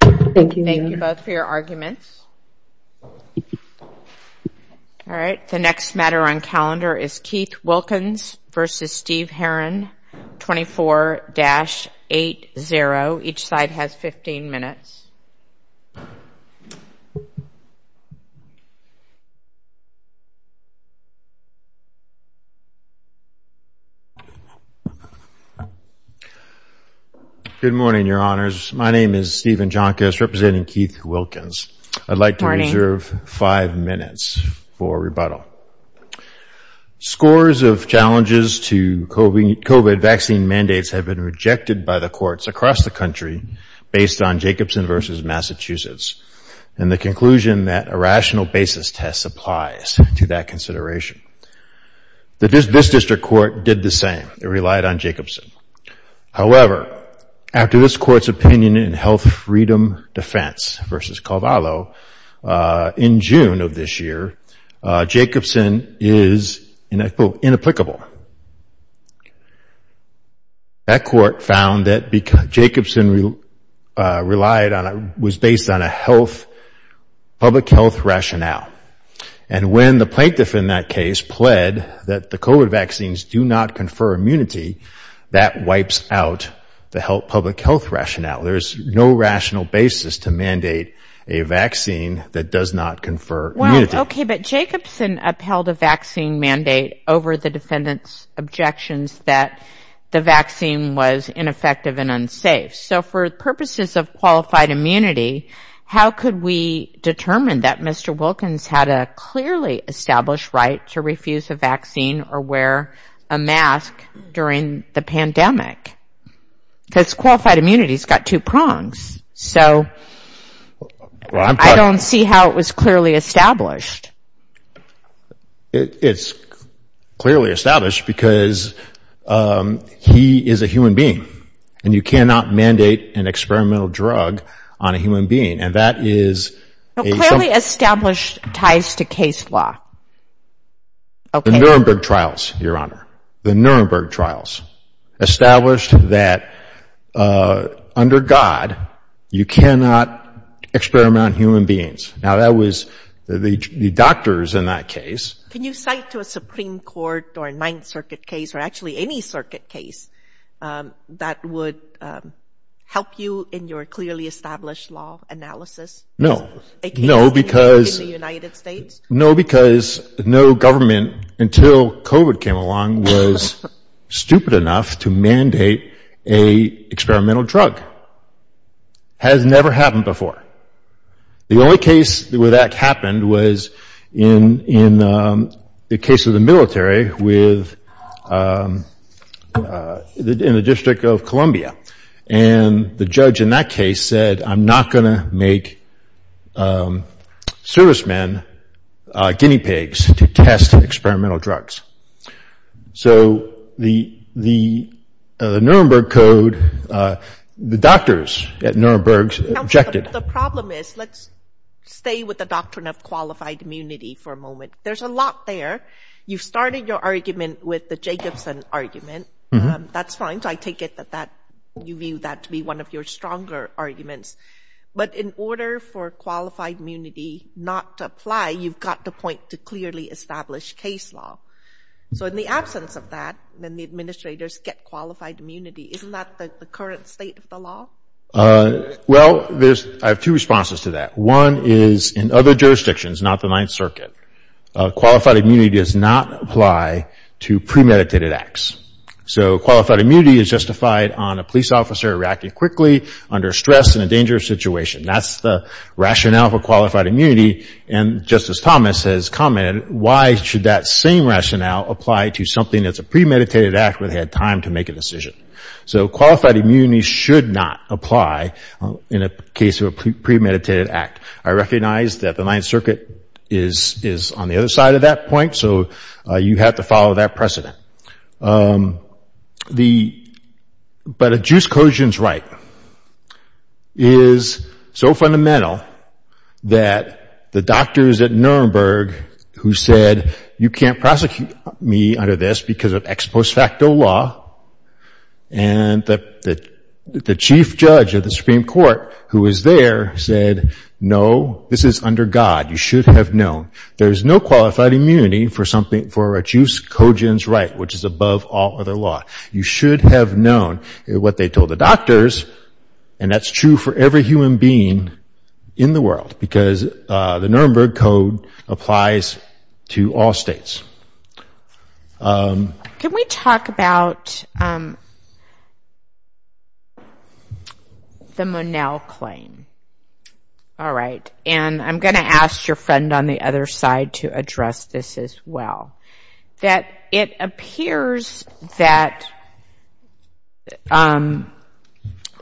Thank you both for your arguments. Alright, the next matter on calendar is Keith Wilkins v. Steve Herron, 24-80. Each side has 15 minutes. Scores of challenges to COVID-19 vaccine mandates have been rejected by the courts across the United States and across the United States, and the conclusion that a rational basis test applies to that consideration. This district court did the same. It relied on Jacobson. However, after this court's opinion in Health Freedom Defense v. Colvallo in June of this year, Jacobson is inapplicable. That court found that Jacobson was based on a public health rationale, and when the plaintiff in that case pled that the COVID vaccines do not confer immunity, that wipes out the public health rationale. There is no rational basis to mandate a vaccine that does not confer immunity. Well, okay, but Jacobson upheld a vaccine mandate over the defendant's objections that the vaccine was ineffective and unsafe. So for purposes of qualified immunity, how could we determine that Mr. Wilkins had a clearly established right to refuse a vaccine or wear a mask during the pandemic? Because qualified immunity has got two prongs, so I don't see how it was clearly established. It's clearly established because he is a human being, and you cannot mandate an experimental drug on a human being, and that is a Clearly established ties to case law. The Nuremberg trials, Your Honor, the Nuremberg trials established that under God, you cannot experiment on human beings. Now, that was the doctors in that case. Can you cite to a Supreme Court or a Ninth Circuit case or actually any circuit case that would help you in your clearly established law analysis? No, no, because In the United States? No, because no government until COVID came along was stupid enough to mandate a experimental drug. Has never happened before. The only case where that happened was in the case of the military with, in the District of Columbia. And the judge in that case said, I'm not going to make servicemen guinea pigs to test experimental drugs. So the Nuremberg Code, the doctors at Nuremberg objected. The problem is, let's stay with the doctrine of qualified immunity for a moment. There's a lot there. You've started your argument with the Jacobson argument. That's fine. I take it that you view that to be one of your stronger arguments. But in order for qualified immunity not to apply, you've got to point to clearly established case law. So in the absence of that, then the administrators get qualified immunity. Isn't that the current state of the law? Well, I have two responses to that. One is in other jurisdictions, not the Ninth Circuit, qualified immunity does not apply to premeditated acts. So qualified immunity is justified on a police officer reacting quickly under stress in a dangerous situation. That's the rationale for qualified immunity. And Justice Thomas has commented, why should that same rationale apply to something that's a premeditated act where they had time to make a decision? So qualified immunity should not apply in a case of a premeditated act. I recognize that the Ninth Circuit is on the other side of that point. So you have to follow that precedent. But a juice quotient's right is so fundamental that the doctors at Nuremberg who said, you can't prosecute me under this because of ex post facto law. And the chief judge of the Supreme Court who was there said, no, this is under God. You should have known. There's no qualified immunity for a juice quotient's right, which is above all other law. You should have known what they told the doctors. And that's true for every human being in the world because the Nuremberg Code applies to all states. Can we talk about the Monell claim? All right. And I'm going to ask your friend on the other side to address this as well. That it appears that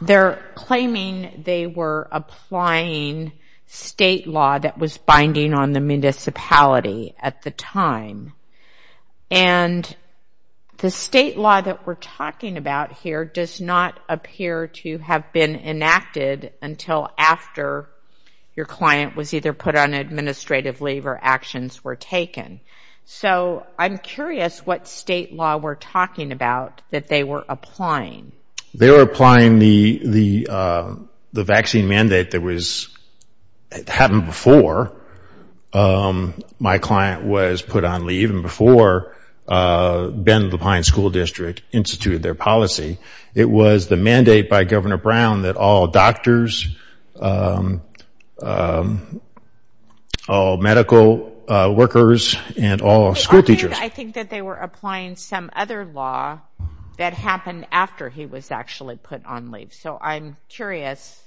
they're claiming they were applying state law that was binding on the municipality at the time. And the state law that we're talking about here does not appear to have been enacted until after your client was either put on administrative leave or actions were taken. So I'm curious what state law we're talking about that they were applying. They were applying the vaccine mandate that happened before my client was put on leave. Even before Ben Levine's school district instituted their policy. It was the mandate by Governor Brown that all doctors, all medical workers, and all school teachers. I think that they were applying some other law that happened after he was actually put on leave. So I'm curious.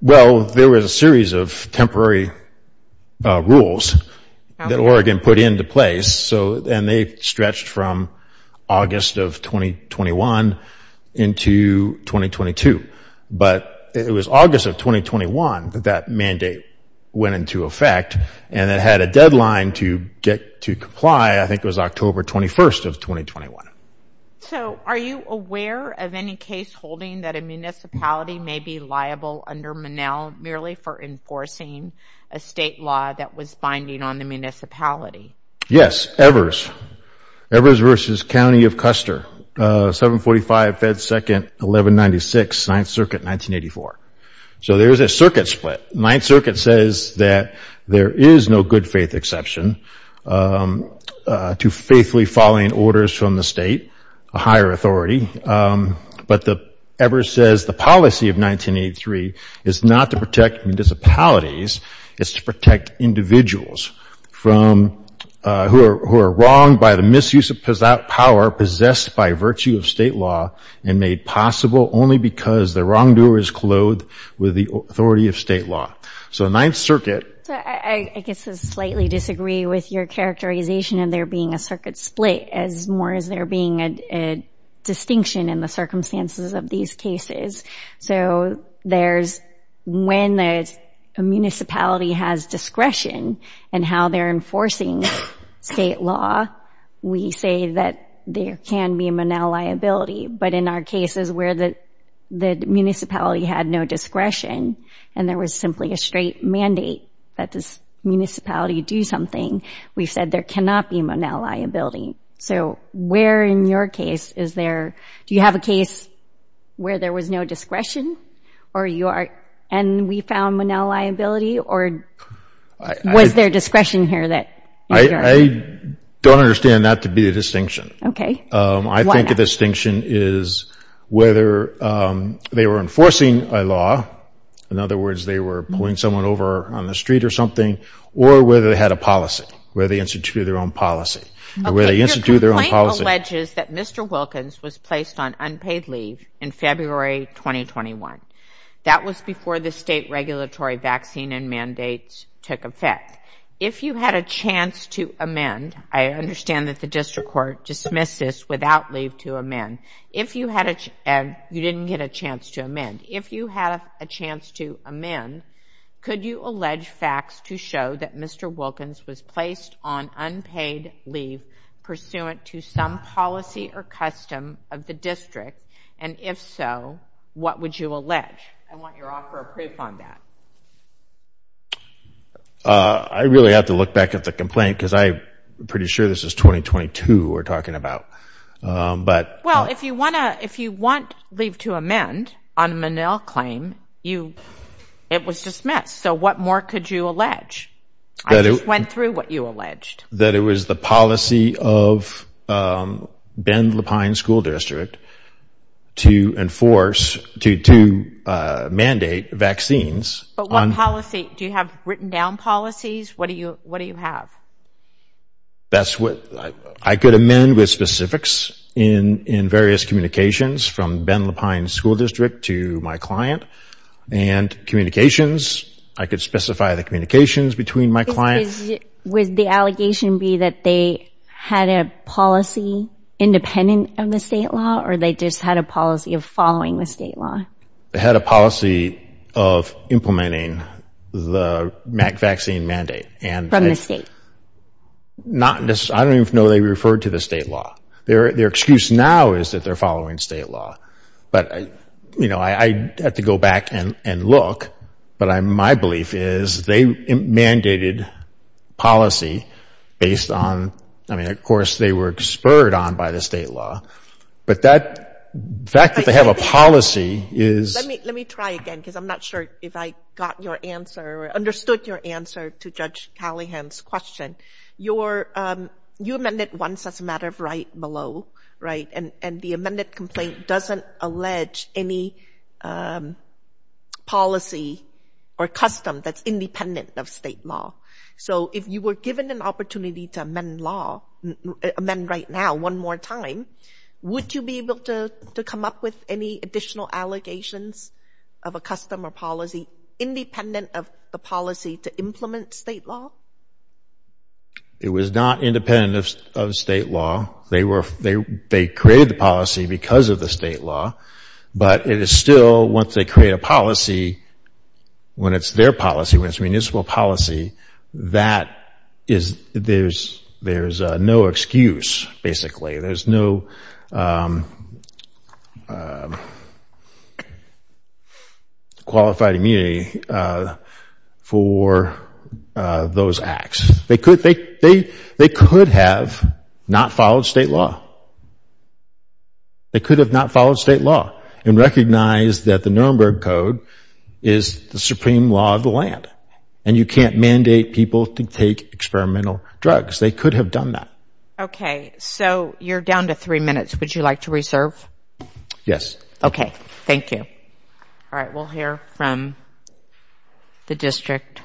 Well, there was a series of temporary rules that Oregon put into place. And they stretched from August of 2021 into 2022. But it was August of 2021 that that mandate went into effect. And it had a deadline to get to comply. I think it was October 21st of 2021. So are you aware of any case holding that a municipality may be liable under Monell merely for enforcing a state law that was binding on the municipality? Yes, Evers. Evers versus County of Custer. 745 Fed 2nd 1196 9th Circuit 1984. So there's a circuit split. 9th Circuit says that there is no good faith exception to faithfully following orders from the state, a higher authority. But Evers says the policy of 1983 is not to protect municipalities. It's to protect individuals who are wronged by the misuse of power possessed by virtue of state law and made possible only because the wrongdoer is clothed with the authority of state law. So 9th Circuit. I guess I slightly disagree with your characterization of there being a circuit split as more as there being a distinction in the circumstances of these cases. So there's when a municipality has discretion and how they're enforcing state law, we say that there can be a Monell liability. But in our cases where the municipality had no discretion and there was simply a straight mandate that this municipality do something, we've said there cannot be a Monell liability. So where in your case is there, do you have a case where there was no discretion and we found Monell liability or was there discretion here? I don't understand that to be a distinction. Okay. I think a distinction is whether they were enforcing a law. In other words, they were pulling someone over on the street or something or whether they had a policy, whether they instituted their own policy. Your complaint alleges that Mr. Wilkins was placed on unpaid leave in February 2021. That was before the state regulatory vaccine and mandates took effect. If you had a chance to amend, I understand that the district court dismissed this without leave to amend. If you didn't get a chance to amend, if you had a chance to amend, could you allege facts to show that Mr. Wilkins was placed on unpaid leave pursuant to some policy or custom of the district? And if so, what would you allege? I want your offer of proof on that. I really have to look back at the complaint because I'm pretty sure this is 2022 we're talking about. Well, if you want leave to amend on a Monell claim, it was dismissed. So what more could you allege? I just went through what you alleged. That it was the policy of Ben Lapine School District to mandate vaccines. But what policy? Do you have written down policies? What do you have? I could amend with specifics in various communications from Ben Lapine School District to my client. And communications, I could specify the communications between my clients. Would the allegation be that they had a policy independent of the state law or they just had a policy of following the state law? They had a policy of implementing the vaccine mandate. From the state? Not necessarily. I don't even know they referred to the state law. Their excuse now is that they're following state law. But I have to go back and look. But my belief is they mandated policy based on, I mean, of course they were spurred on by the state law. But the fact that they have a policy is... Let me try again because I'm not sure if I got your answer or understood your answer to Judge Callahan's question. You amended once as a matter of right below. And the amended complaint doesn't allege any policy or custom that's independent of state law. So if you were given an opportunity to amend law, amend right now one more time, would you be able to come up with any additional allegations of a custom or policy independent of the policy to implement state law? It was not independent of state law. They created the policy because of the state law. But it is still, once they create a policy, when it's their policy, when it's municipal policy, that is, there's no excuse, basically. There's no qualified immunity for those acts. They could have not followed state law. They could have not followed state law and recognized that the Nuremberg Code is the supreme law of the land. And you can't mandate people to take experimental drugs. They could have done that. So you're down to three minutes. Would you like to reserve? Yes. Okay. Thank you. All right. We'll hear from the district.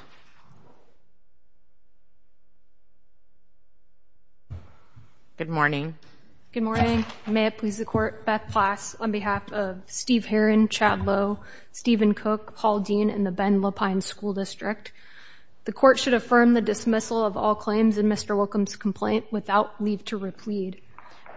Good morning. Good morning. May it please the Court. Beth Plass on behalf of Steve Herron, Chad Lowe, Stephen Cook, Paul Dean, and the Ben Lapine School District. The Court should affirm the dismissal of all claims in Mr. Wilkham's complaint without leave to replead.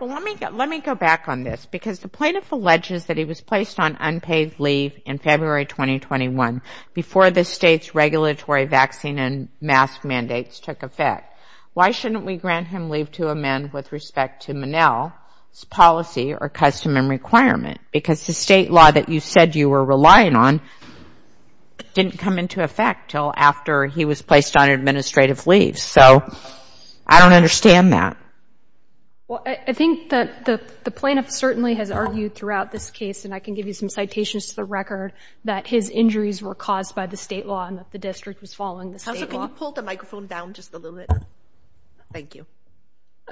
Well, let me go back on this because the plaintiff alleges that he was placed on unpaid leave in February 2021 before the state's regulatory vaccine and mask mandates took effect. Why shouldn't we grant him leave to amend with respect to Monell's policy or custom and requirement? Because the state law that you said you were relying on didn't come into effect until after he was placed on administrative leave. So I don't understand that. Well, I think that the plaintiff certainly has argued throughout this case, and I can give you some citations to the record, that his injuries were caused by the state law and that the district was following the state law. Counsel, can you pull the microphone down just a little bit? Thank you.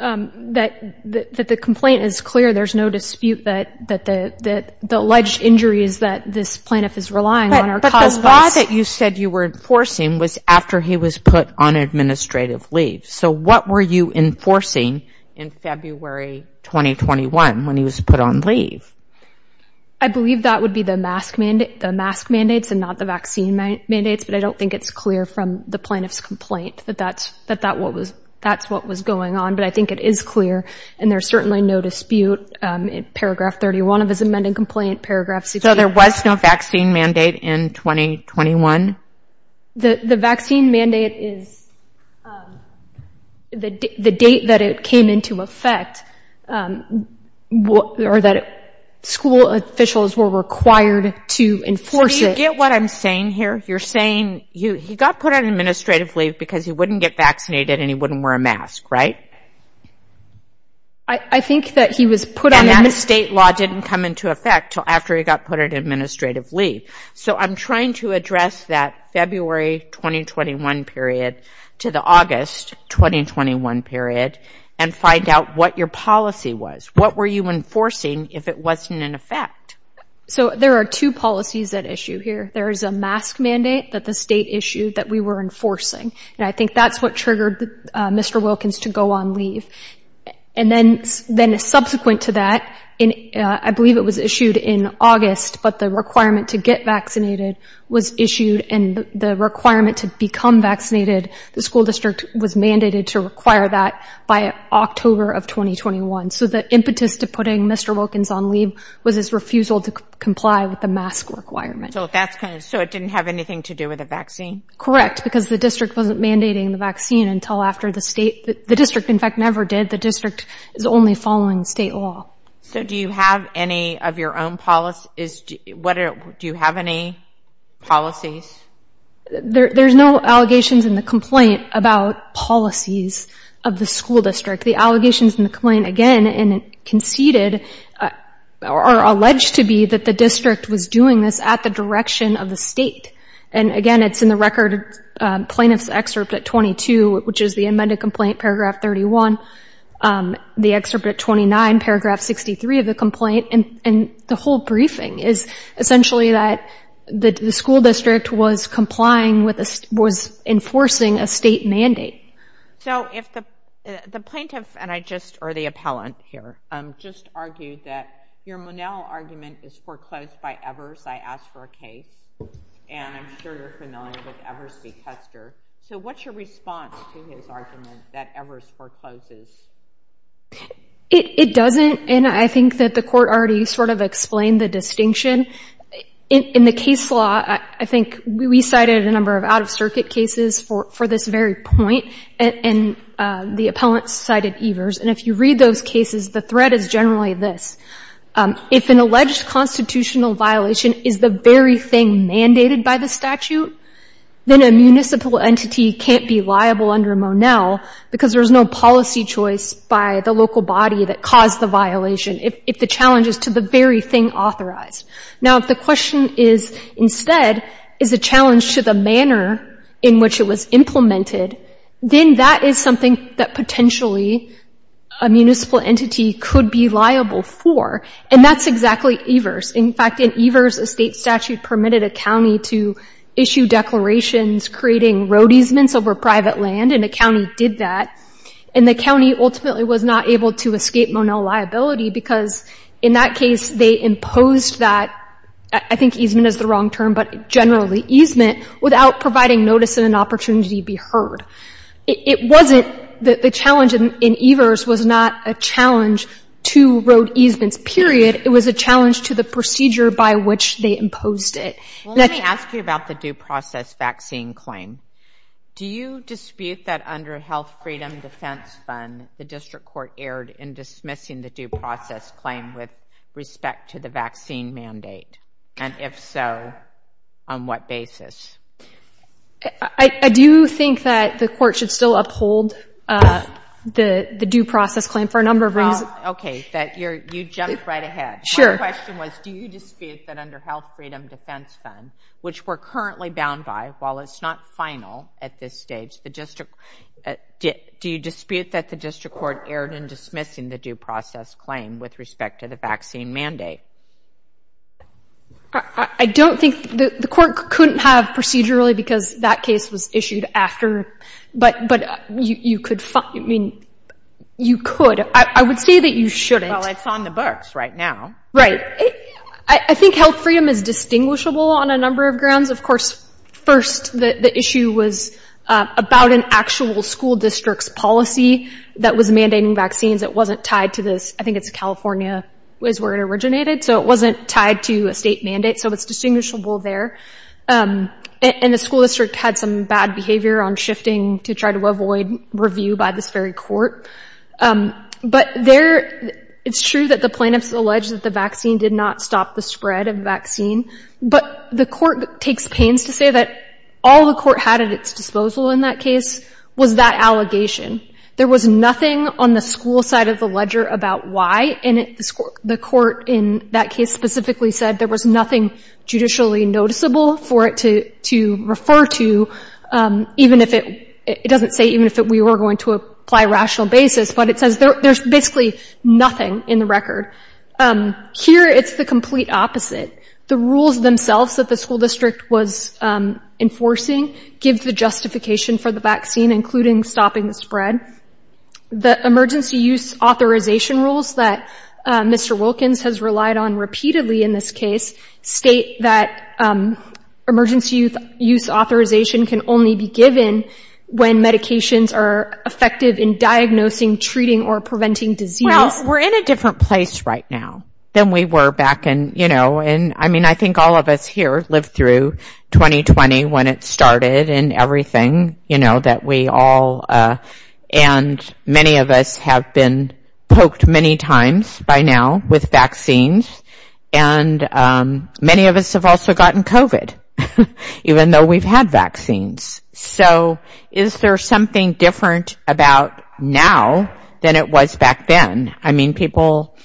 That the complaint is clear. There's no dispute that the alleged injuries that this plaintiff is relying on are caused by... But the law that you said you were enforcing was after he was put on administrative leave. So what were you enforcing in February 2021 when he was put on leave? I believe that would be the mask mandates and not the vaccine mandates, but I don't think it's clear from the plaintiff's complaint that that's what was going on. But I think it is clear, and there's certainly no dispute in paragraph 31 of his amended complaint, paragraph... So there was no vaccine mandate in 2021? The vaccine mandate is... The date that it came into effect or that school officials were required to enforce it... So do you get what I'm saying here? You're saying he got put on administrative leave because he wouldn't get vaccinated and he wouldn't wear a mask, right? I think that he was put on... And that state law didn't come into effect until after he got put on administrative leave. So I'm trying to address that February 2021 period to the August 2021 period and find out what your policy was. What were you enforcing if it wasn't in effect? So there are two policies at issue here. There is a mask mandate that the state issued that we were enforcing. And I think that's what triggered Mr. Wilkins to go on leave. And then subsequent to that, I believe it was issued in August, but the requirement to get vaccinated was issued and the requirement to become vaccinated, the school district was mandated to require that by October of 2021. So the impetus to putting Mr. Wilkins on leave was his refusal to comply with the mask requirement. So it didn't have anything to do with the vaccine? Correct, because the district wasn't mandating the vaccine until after the state... The district, in fact, never did. The district is only following state law. So do you have any of your own policies? Do you have any policies? There's no allegations in the complaint about policies of the school district. The allegations in the complaint, again, and conceded or alleged to be that the district was doing this at the direction of the state. And again, it's in the record plaintiff's excerpt at 22, which is the amended complaint, paragraph 31. The excerpt at 29, paragraph 63 of the complaint. And the whole briefing is essentially that the school district was complying with... was enforcing a state mandate. So if the plaintiff and I just... or the appellant here just argued that your Monell argument is foreclosed by Evers, I asked for a case, and I'm sure you're familiar with Evers v. Custer. So what's your response to his argument that Evers forecloses? It doesn't, and I think that the court already sort of explained the distinction. In the case law, I think we cited a number of out-of-circuit cases for this very point, and the appellant cited Evers. And if you read those cases, the threat is generally this. If an alleged constitutional violation is the very thing mandated by the statute, then a municipal entity can't be liable under Monell because there's no policy choice by the local body that caused the violation if the challenge is to the very thing authorized. Now, if the question is instead, is the challenge to the manner in which it was implemented, then that is something that potentially a municipal entity could be liable for, and that's exactly Evers. In fact, in Evers, a state statute permitted a county to issue declarations creating road easements over private land, and the county did that. And the county ultimately was not able to escape Monell liability because in that case, they imposed that, I think easement is the wrong term, but generally easement, without providing notice and an opportunity to be heard. It wasn't, the challenge in Evers was not a challenge to road easements, period. It was a challenge to the procedure by which they imposed it. Well, let me ask you about the due process vaccine claim. Do you dispute that under a Health Freedom Defense Fund, the district court erred in dismissing the due process claim with respect to the vaccine mandate? And if so, on what basis? I do think that the court should still uphold the due process claim for a number of reasons. Okay, you jumped right ahead. My question was, do you dispute that under Health Freedom Defense Fund, which we're currently bound by, while it's not final at this stage, do you dispute that the district court erred in dismissing the due process claim with respect to the vaccine mandate? I don't think, the court couldn't have procedurally because that case was issued after, but you could, I mean, you could, I would say that you shouldn't. Well, it's on the books right now. I think health freedom is distinguishable on a number of grounds. Of course, first, the issue was about an actual school district's policy that was mandating vaccines that wasn't tied to this, I think it's California is where it originated, so it wasn't tied to a state mandate, so it's distinguishable there. And the school district had some bad behavior on shifting to try to avoid review by this very court. But there, it's true that the plaintiffs allege that the vaccine did not stop the spread of the vaccine, but the court takes pains to say that all the court had at its disposal in that case was that allegation. There was nothing on the school side of the ledger about why, and the court in that case specifically said there was nothing judicially noticeable for it to refer to, even if it, it doesn't say even if we were going to apply rational basis, but it says there's basically nothing in the record. Here, it's the complete opposite. The rules themselves that the school district was enforcing give the justification for the vaccine, including stopping the spread. The emergency use authorization rules that Mr. Wilkins has relied on repeatedly in this case state that emergency use authorization can only be given when medications are effective in diagnosing, treating, or preventing disease. Well, we're in a different place right now than we were back in, you know, and I mean, I think all of us here lived through 2020 when it started and everything, you know, that we all, and many of us have been poked many times by now with vaccines, and many of us have also gotten COVID, even though we've had vaccines. So is there something different about now than it was back then? I mean, people,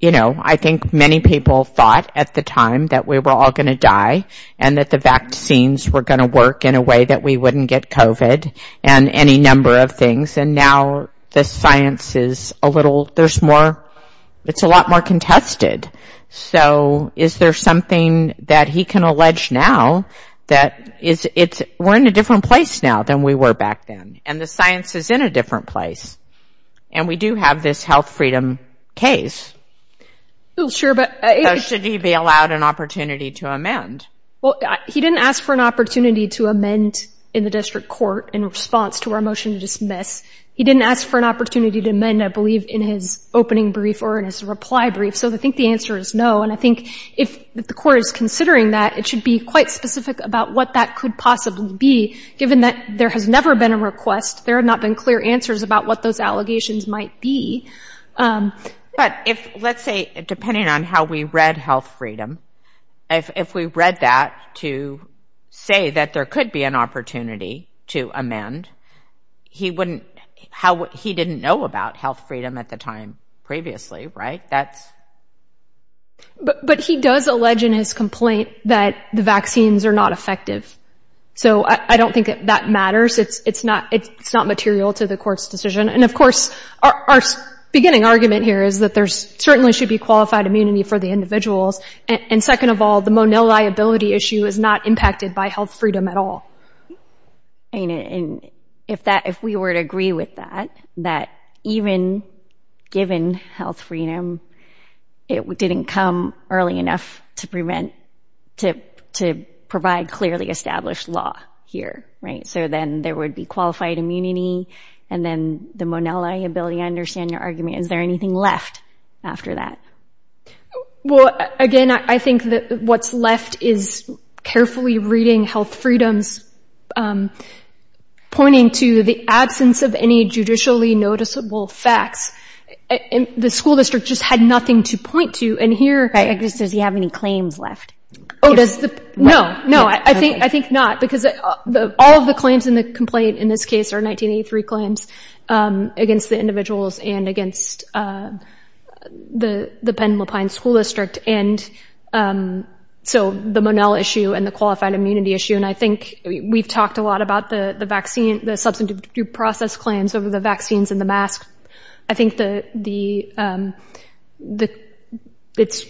you know, I think many people thought at the time that we were all going to die and that the vaccines were going to work in a way that we wouldn't get COVID and any number of things, and now the science is a little, there's more, it's a lot more contested. So is there something that he can allege now that it's, we're in a different place now than we were back then, and the science is in a different place? And we do have this health freedom case. So should he be allowed an opportunity to amend? Well, he didn't ask for an opportunity to amend in the district court in response to our motion to dismiss. He didn't ask for an opportunity to amend, I believe, in his opening brief or in his reply brief, so I think the answer is no, and I think if the court is considering that, it should be quite specific about what that could possibly be, given that there has never been a request, there have not been clear answers about what those allegations might be. But if, let's say, depending on how we read health freedom, if we read that to say that there could be an opportunity to amend, he wouldn't, he didn't know about health freedom at the time previously, right? But he does allege in his complaint that the vaccines are not effective. So I don't think that matters. It's not material to the court's decision. And of course, our beginning argument here is that there certainly should be qualified immunity for the individuals, and second of all, the Monell liability issue is not impacted by health freedom at all. If we were to agree with that, that even given health freedom, it didn't come early enough to prevent, to provide clearly established law here, right? So then there would be qualified immunity, and then the Monell liability. I understand your argument. Is there anything left after that? Well, again, I think that what's left is carefully reading health freedoms, pointing to the absence of any judicially noticeable facts. The school district just had nothing to point to. Does he have any claims left? No, no, I think not, because all of the claims in the complaint in this case are 1983 claims against the individuals and against the Penn-Lapine school district. And so the Monell issue and the qualified immunity issue, and I think we've talked a lot about the vaccine, the substantive due process claims over the vaccines and the masks. I think it's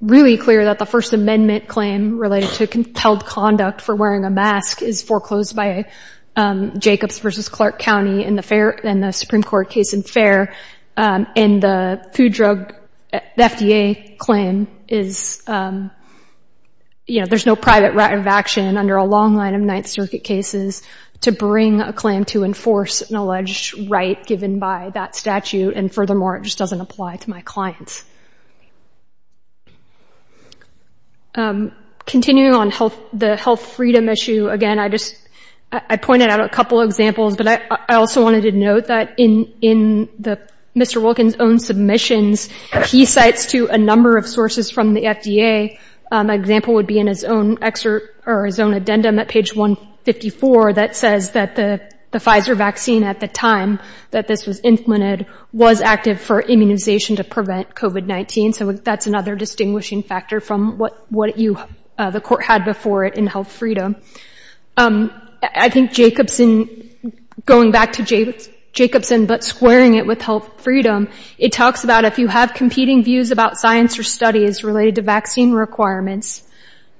really clear that the First Amendment claim related to compelled conduct for wearing a mask is foreclosed by Jacobs v. Clark County in the Supreme Court case in Faire, and the FDA claim is, you know, there's no private action under a long line of Ninth Circuit cases to bring a claim to enforce an alleged right given by that statute, and furthermore, it just doesn't apply to my clients. Continuing on the health freedom issue, again, I just pointed out a couple of examples, but I also wanted to note that in Mr. Wilkins' own submissions, he cites to a number of sources from the FDA. An example would be in his own excerpt or his own addendum at page 154 that says that the Pfizer vaccine at the time that this was implemented was active for immunization to prevent COVID-19, so that's another distinguishing factor from what the court had before it in health freedom. I think Jacobson, going back to Jacobson but squaring it with health freedom, it talks about if you have competing views about science or studies related to vaccine requirements,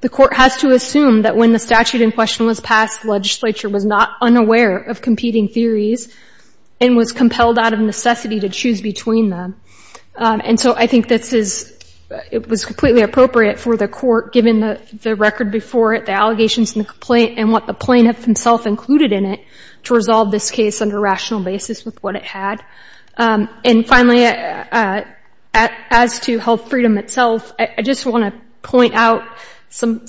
the court has to assume that when the statute in question was passed, the legislature was not unaware of competing theories and was compelled out of necessity to choose between them, and so I think it was completely appropriate for the court, given the record before it, the allegations and what the plaintiff himself concluded in it, to resolve this case on a rational basis with what it had. And finally, as to health freedom itself, I just want to point out some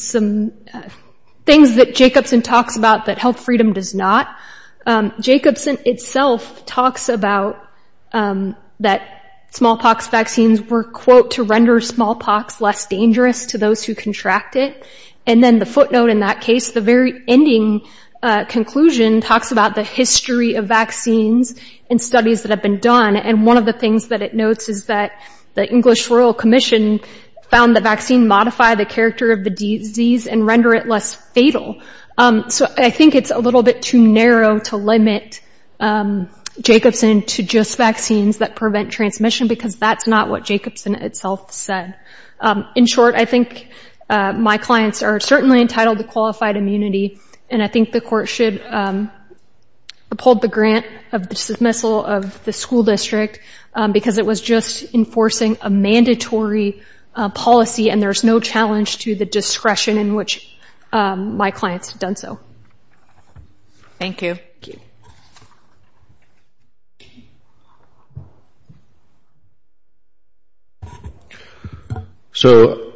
things that Jacobson talks about that health freedom does not. Jacobson itself talks about that smallpox vaccines were, quote, to render smallpox less dangerous to those who contract it, and then the footnote in that case, the very ending conclusion, talks about the history of vaccines and studies that have been done, and one of the things that it notes is that the English Royal Commission found the vaccine modified the character of the disease and render it less fatal. So I think it's a little bit too narrow to limit Jacobson to just vaccines that prevent transmission, because that's not what Jacobson itself said. In short, I think my clients are certainly entitled to qualified immunity, and I think the court should uphold the grant of the dismissal of the school district because it was just enforcing a mandatory policy and there's no challenge to the discretion in which my clients had done so. Thank you. So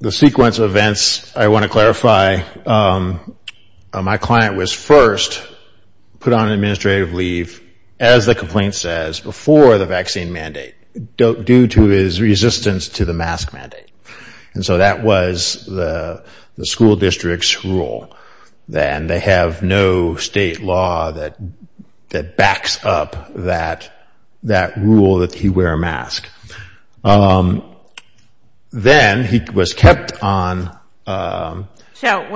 the sequence of events I want to clarify, my client was first put on administrative leave as the complaint says before the vaccine mandate due to his resistance to the mask mandate, and so that was the school district's rule and they have no state law that backs up that rule that he wear a mask. Then he was kept on So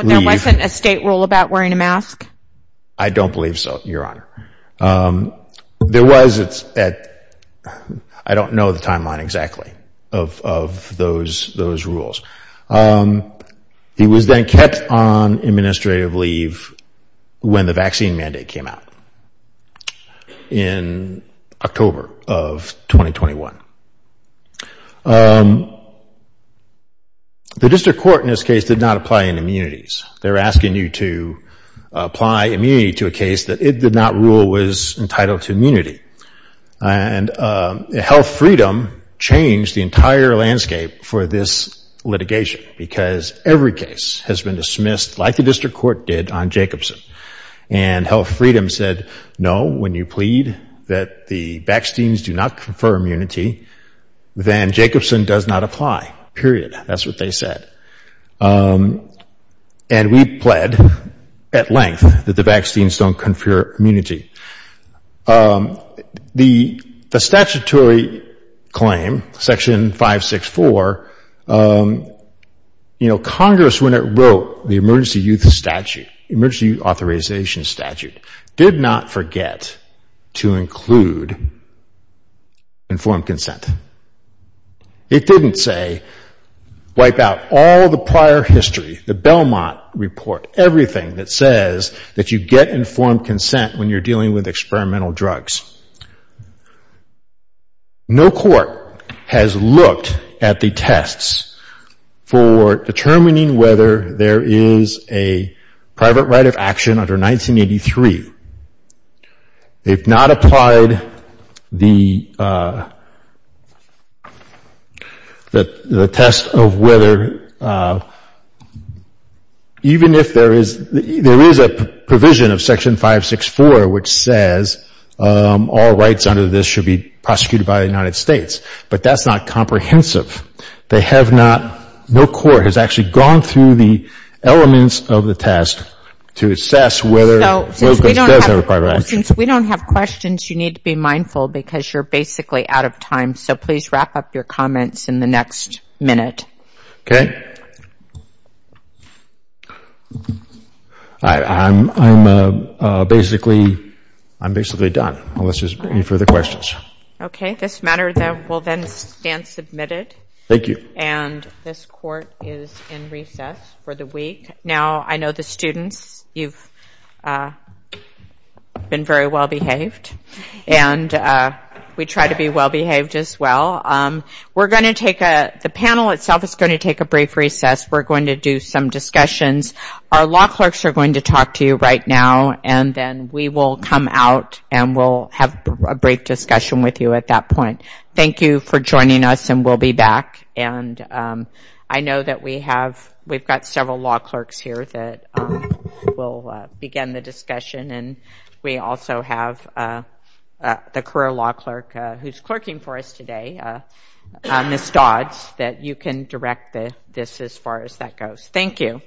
there wasn't a state rule about wearing a mask? I don't believe so, Your Honor. There was, I don't know the timeline exactly of those rules. He was then kept on administrative leave when the vaccine mandate came out in October of 2021. The district court in this case did not apply in immunities. They were asking you to apply immunity to a case that it did not rule was entitled to immunity. Health Freedom changed the entire landscape for this litigation because every case has been dismissed like the district court did on Jacobson and Health Freedom said no when you plead that the vaccines do not confer immunity then Jacobson does not apply. Period. That's what they said. And we pled at length that the vaccines don't confer immunity. The statutory claim section 564 Congress when it wrote the emergency use statute emergency authorization statute did not forget to include informed consent. It didn't say wipe out all the prior history the Belmont report, everything that says that you get informed consent when you're dealing with experimental drugs. No court has looked at the tests for determining whether there is a private right of action under 1983. They've not applied the test of whether even if there is a provision of section 564 which says all rights under this should be prosecuted by the United States. But that's not comprehensive. No court has actually gone through the elements of the test to assess whether there is a private right of action. Since we don't have questions, you need to be mindful because you're basically out of time. So please wrap up your comments in the next minute. I'm basically done. Any further questions? This matter will then stand submitted and this court is in recess for the week. Now I know the students you've been very well behaved and we try to be well behaved as well. The panel itself is going to take a brief recess we're going to do some discussions. Our law clerks are going to talk to you right now and then we will come out and we'll have a brief discussion with you at that point. Thank you for joining us and we'll be back. We've got several law clerks here that will begin the discussion and we also have the career law clerk who's clerking for us today Ms. Dodds that you can direct this as far as that goes. Thank you. Thank you.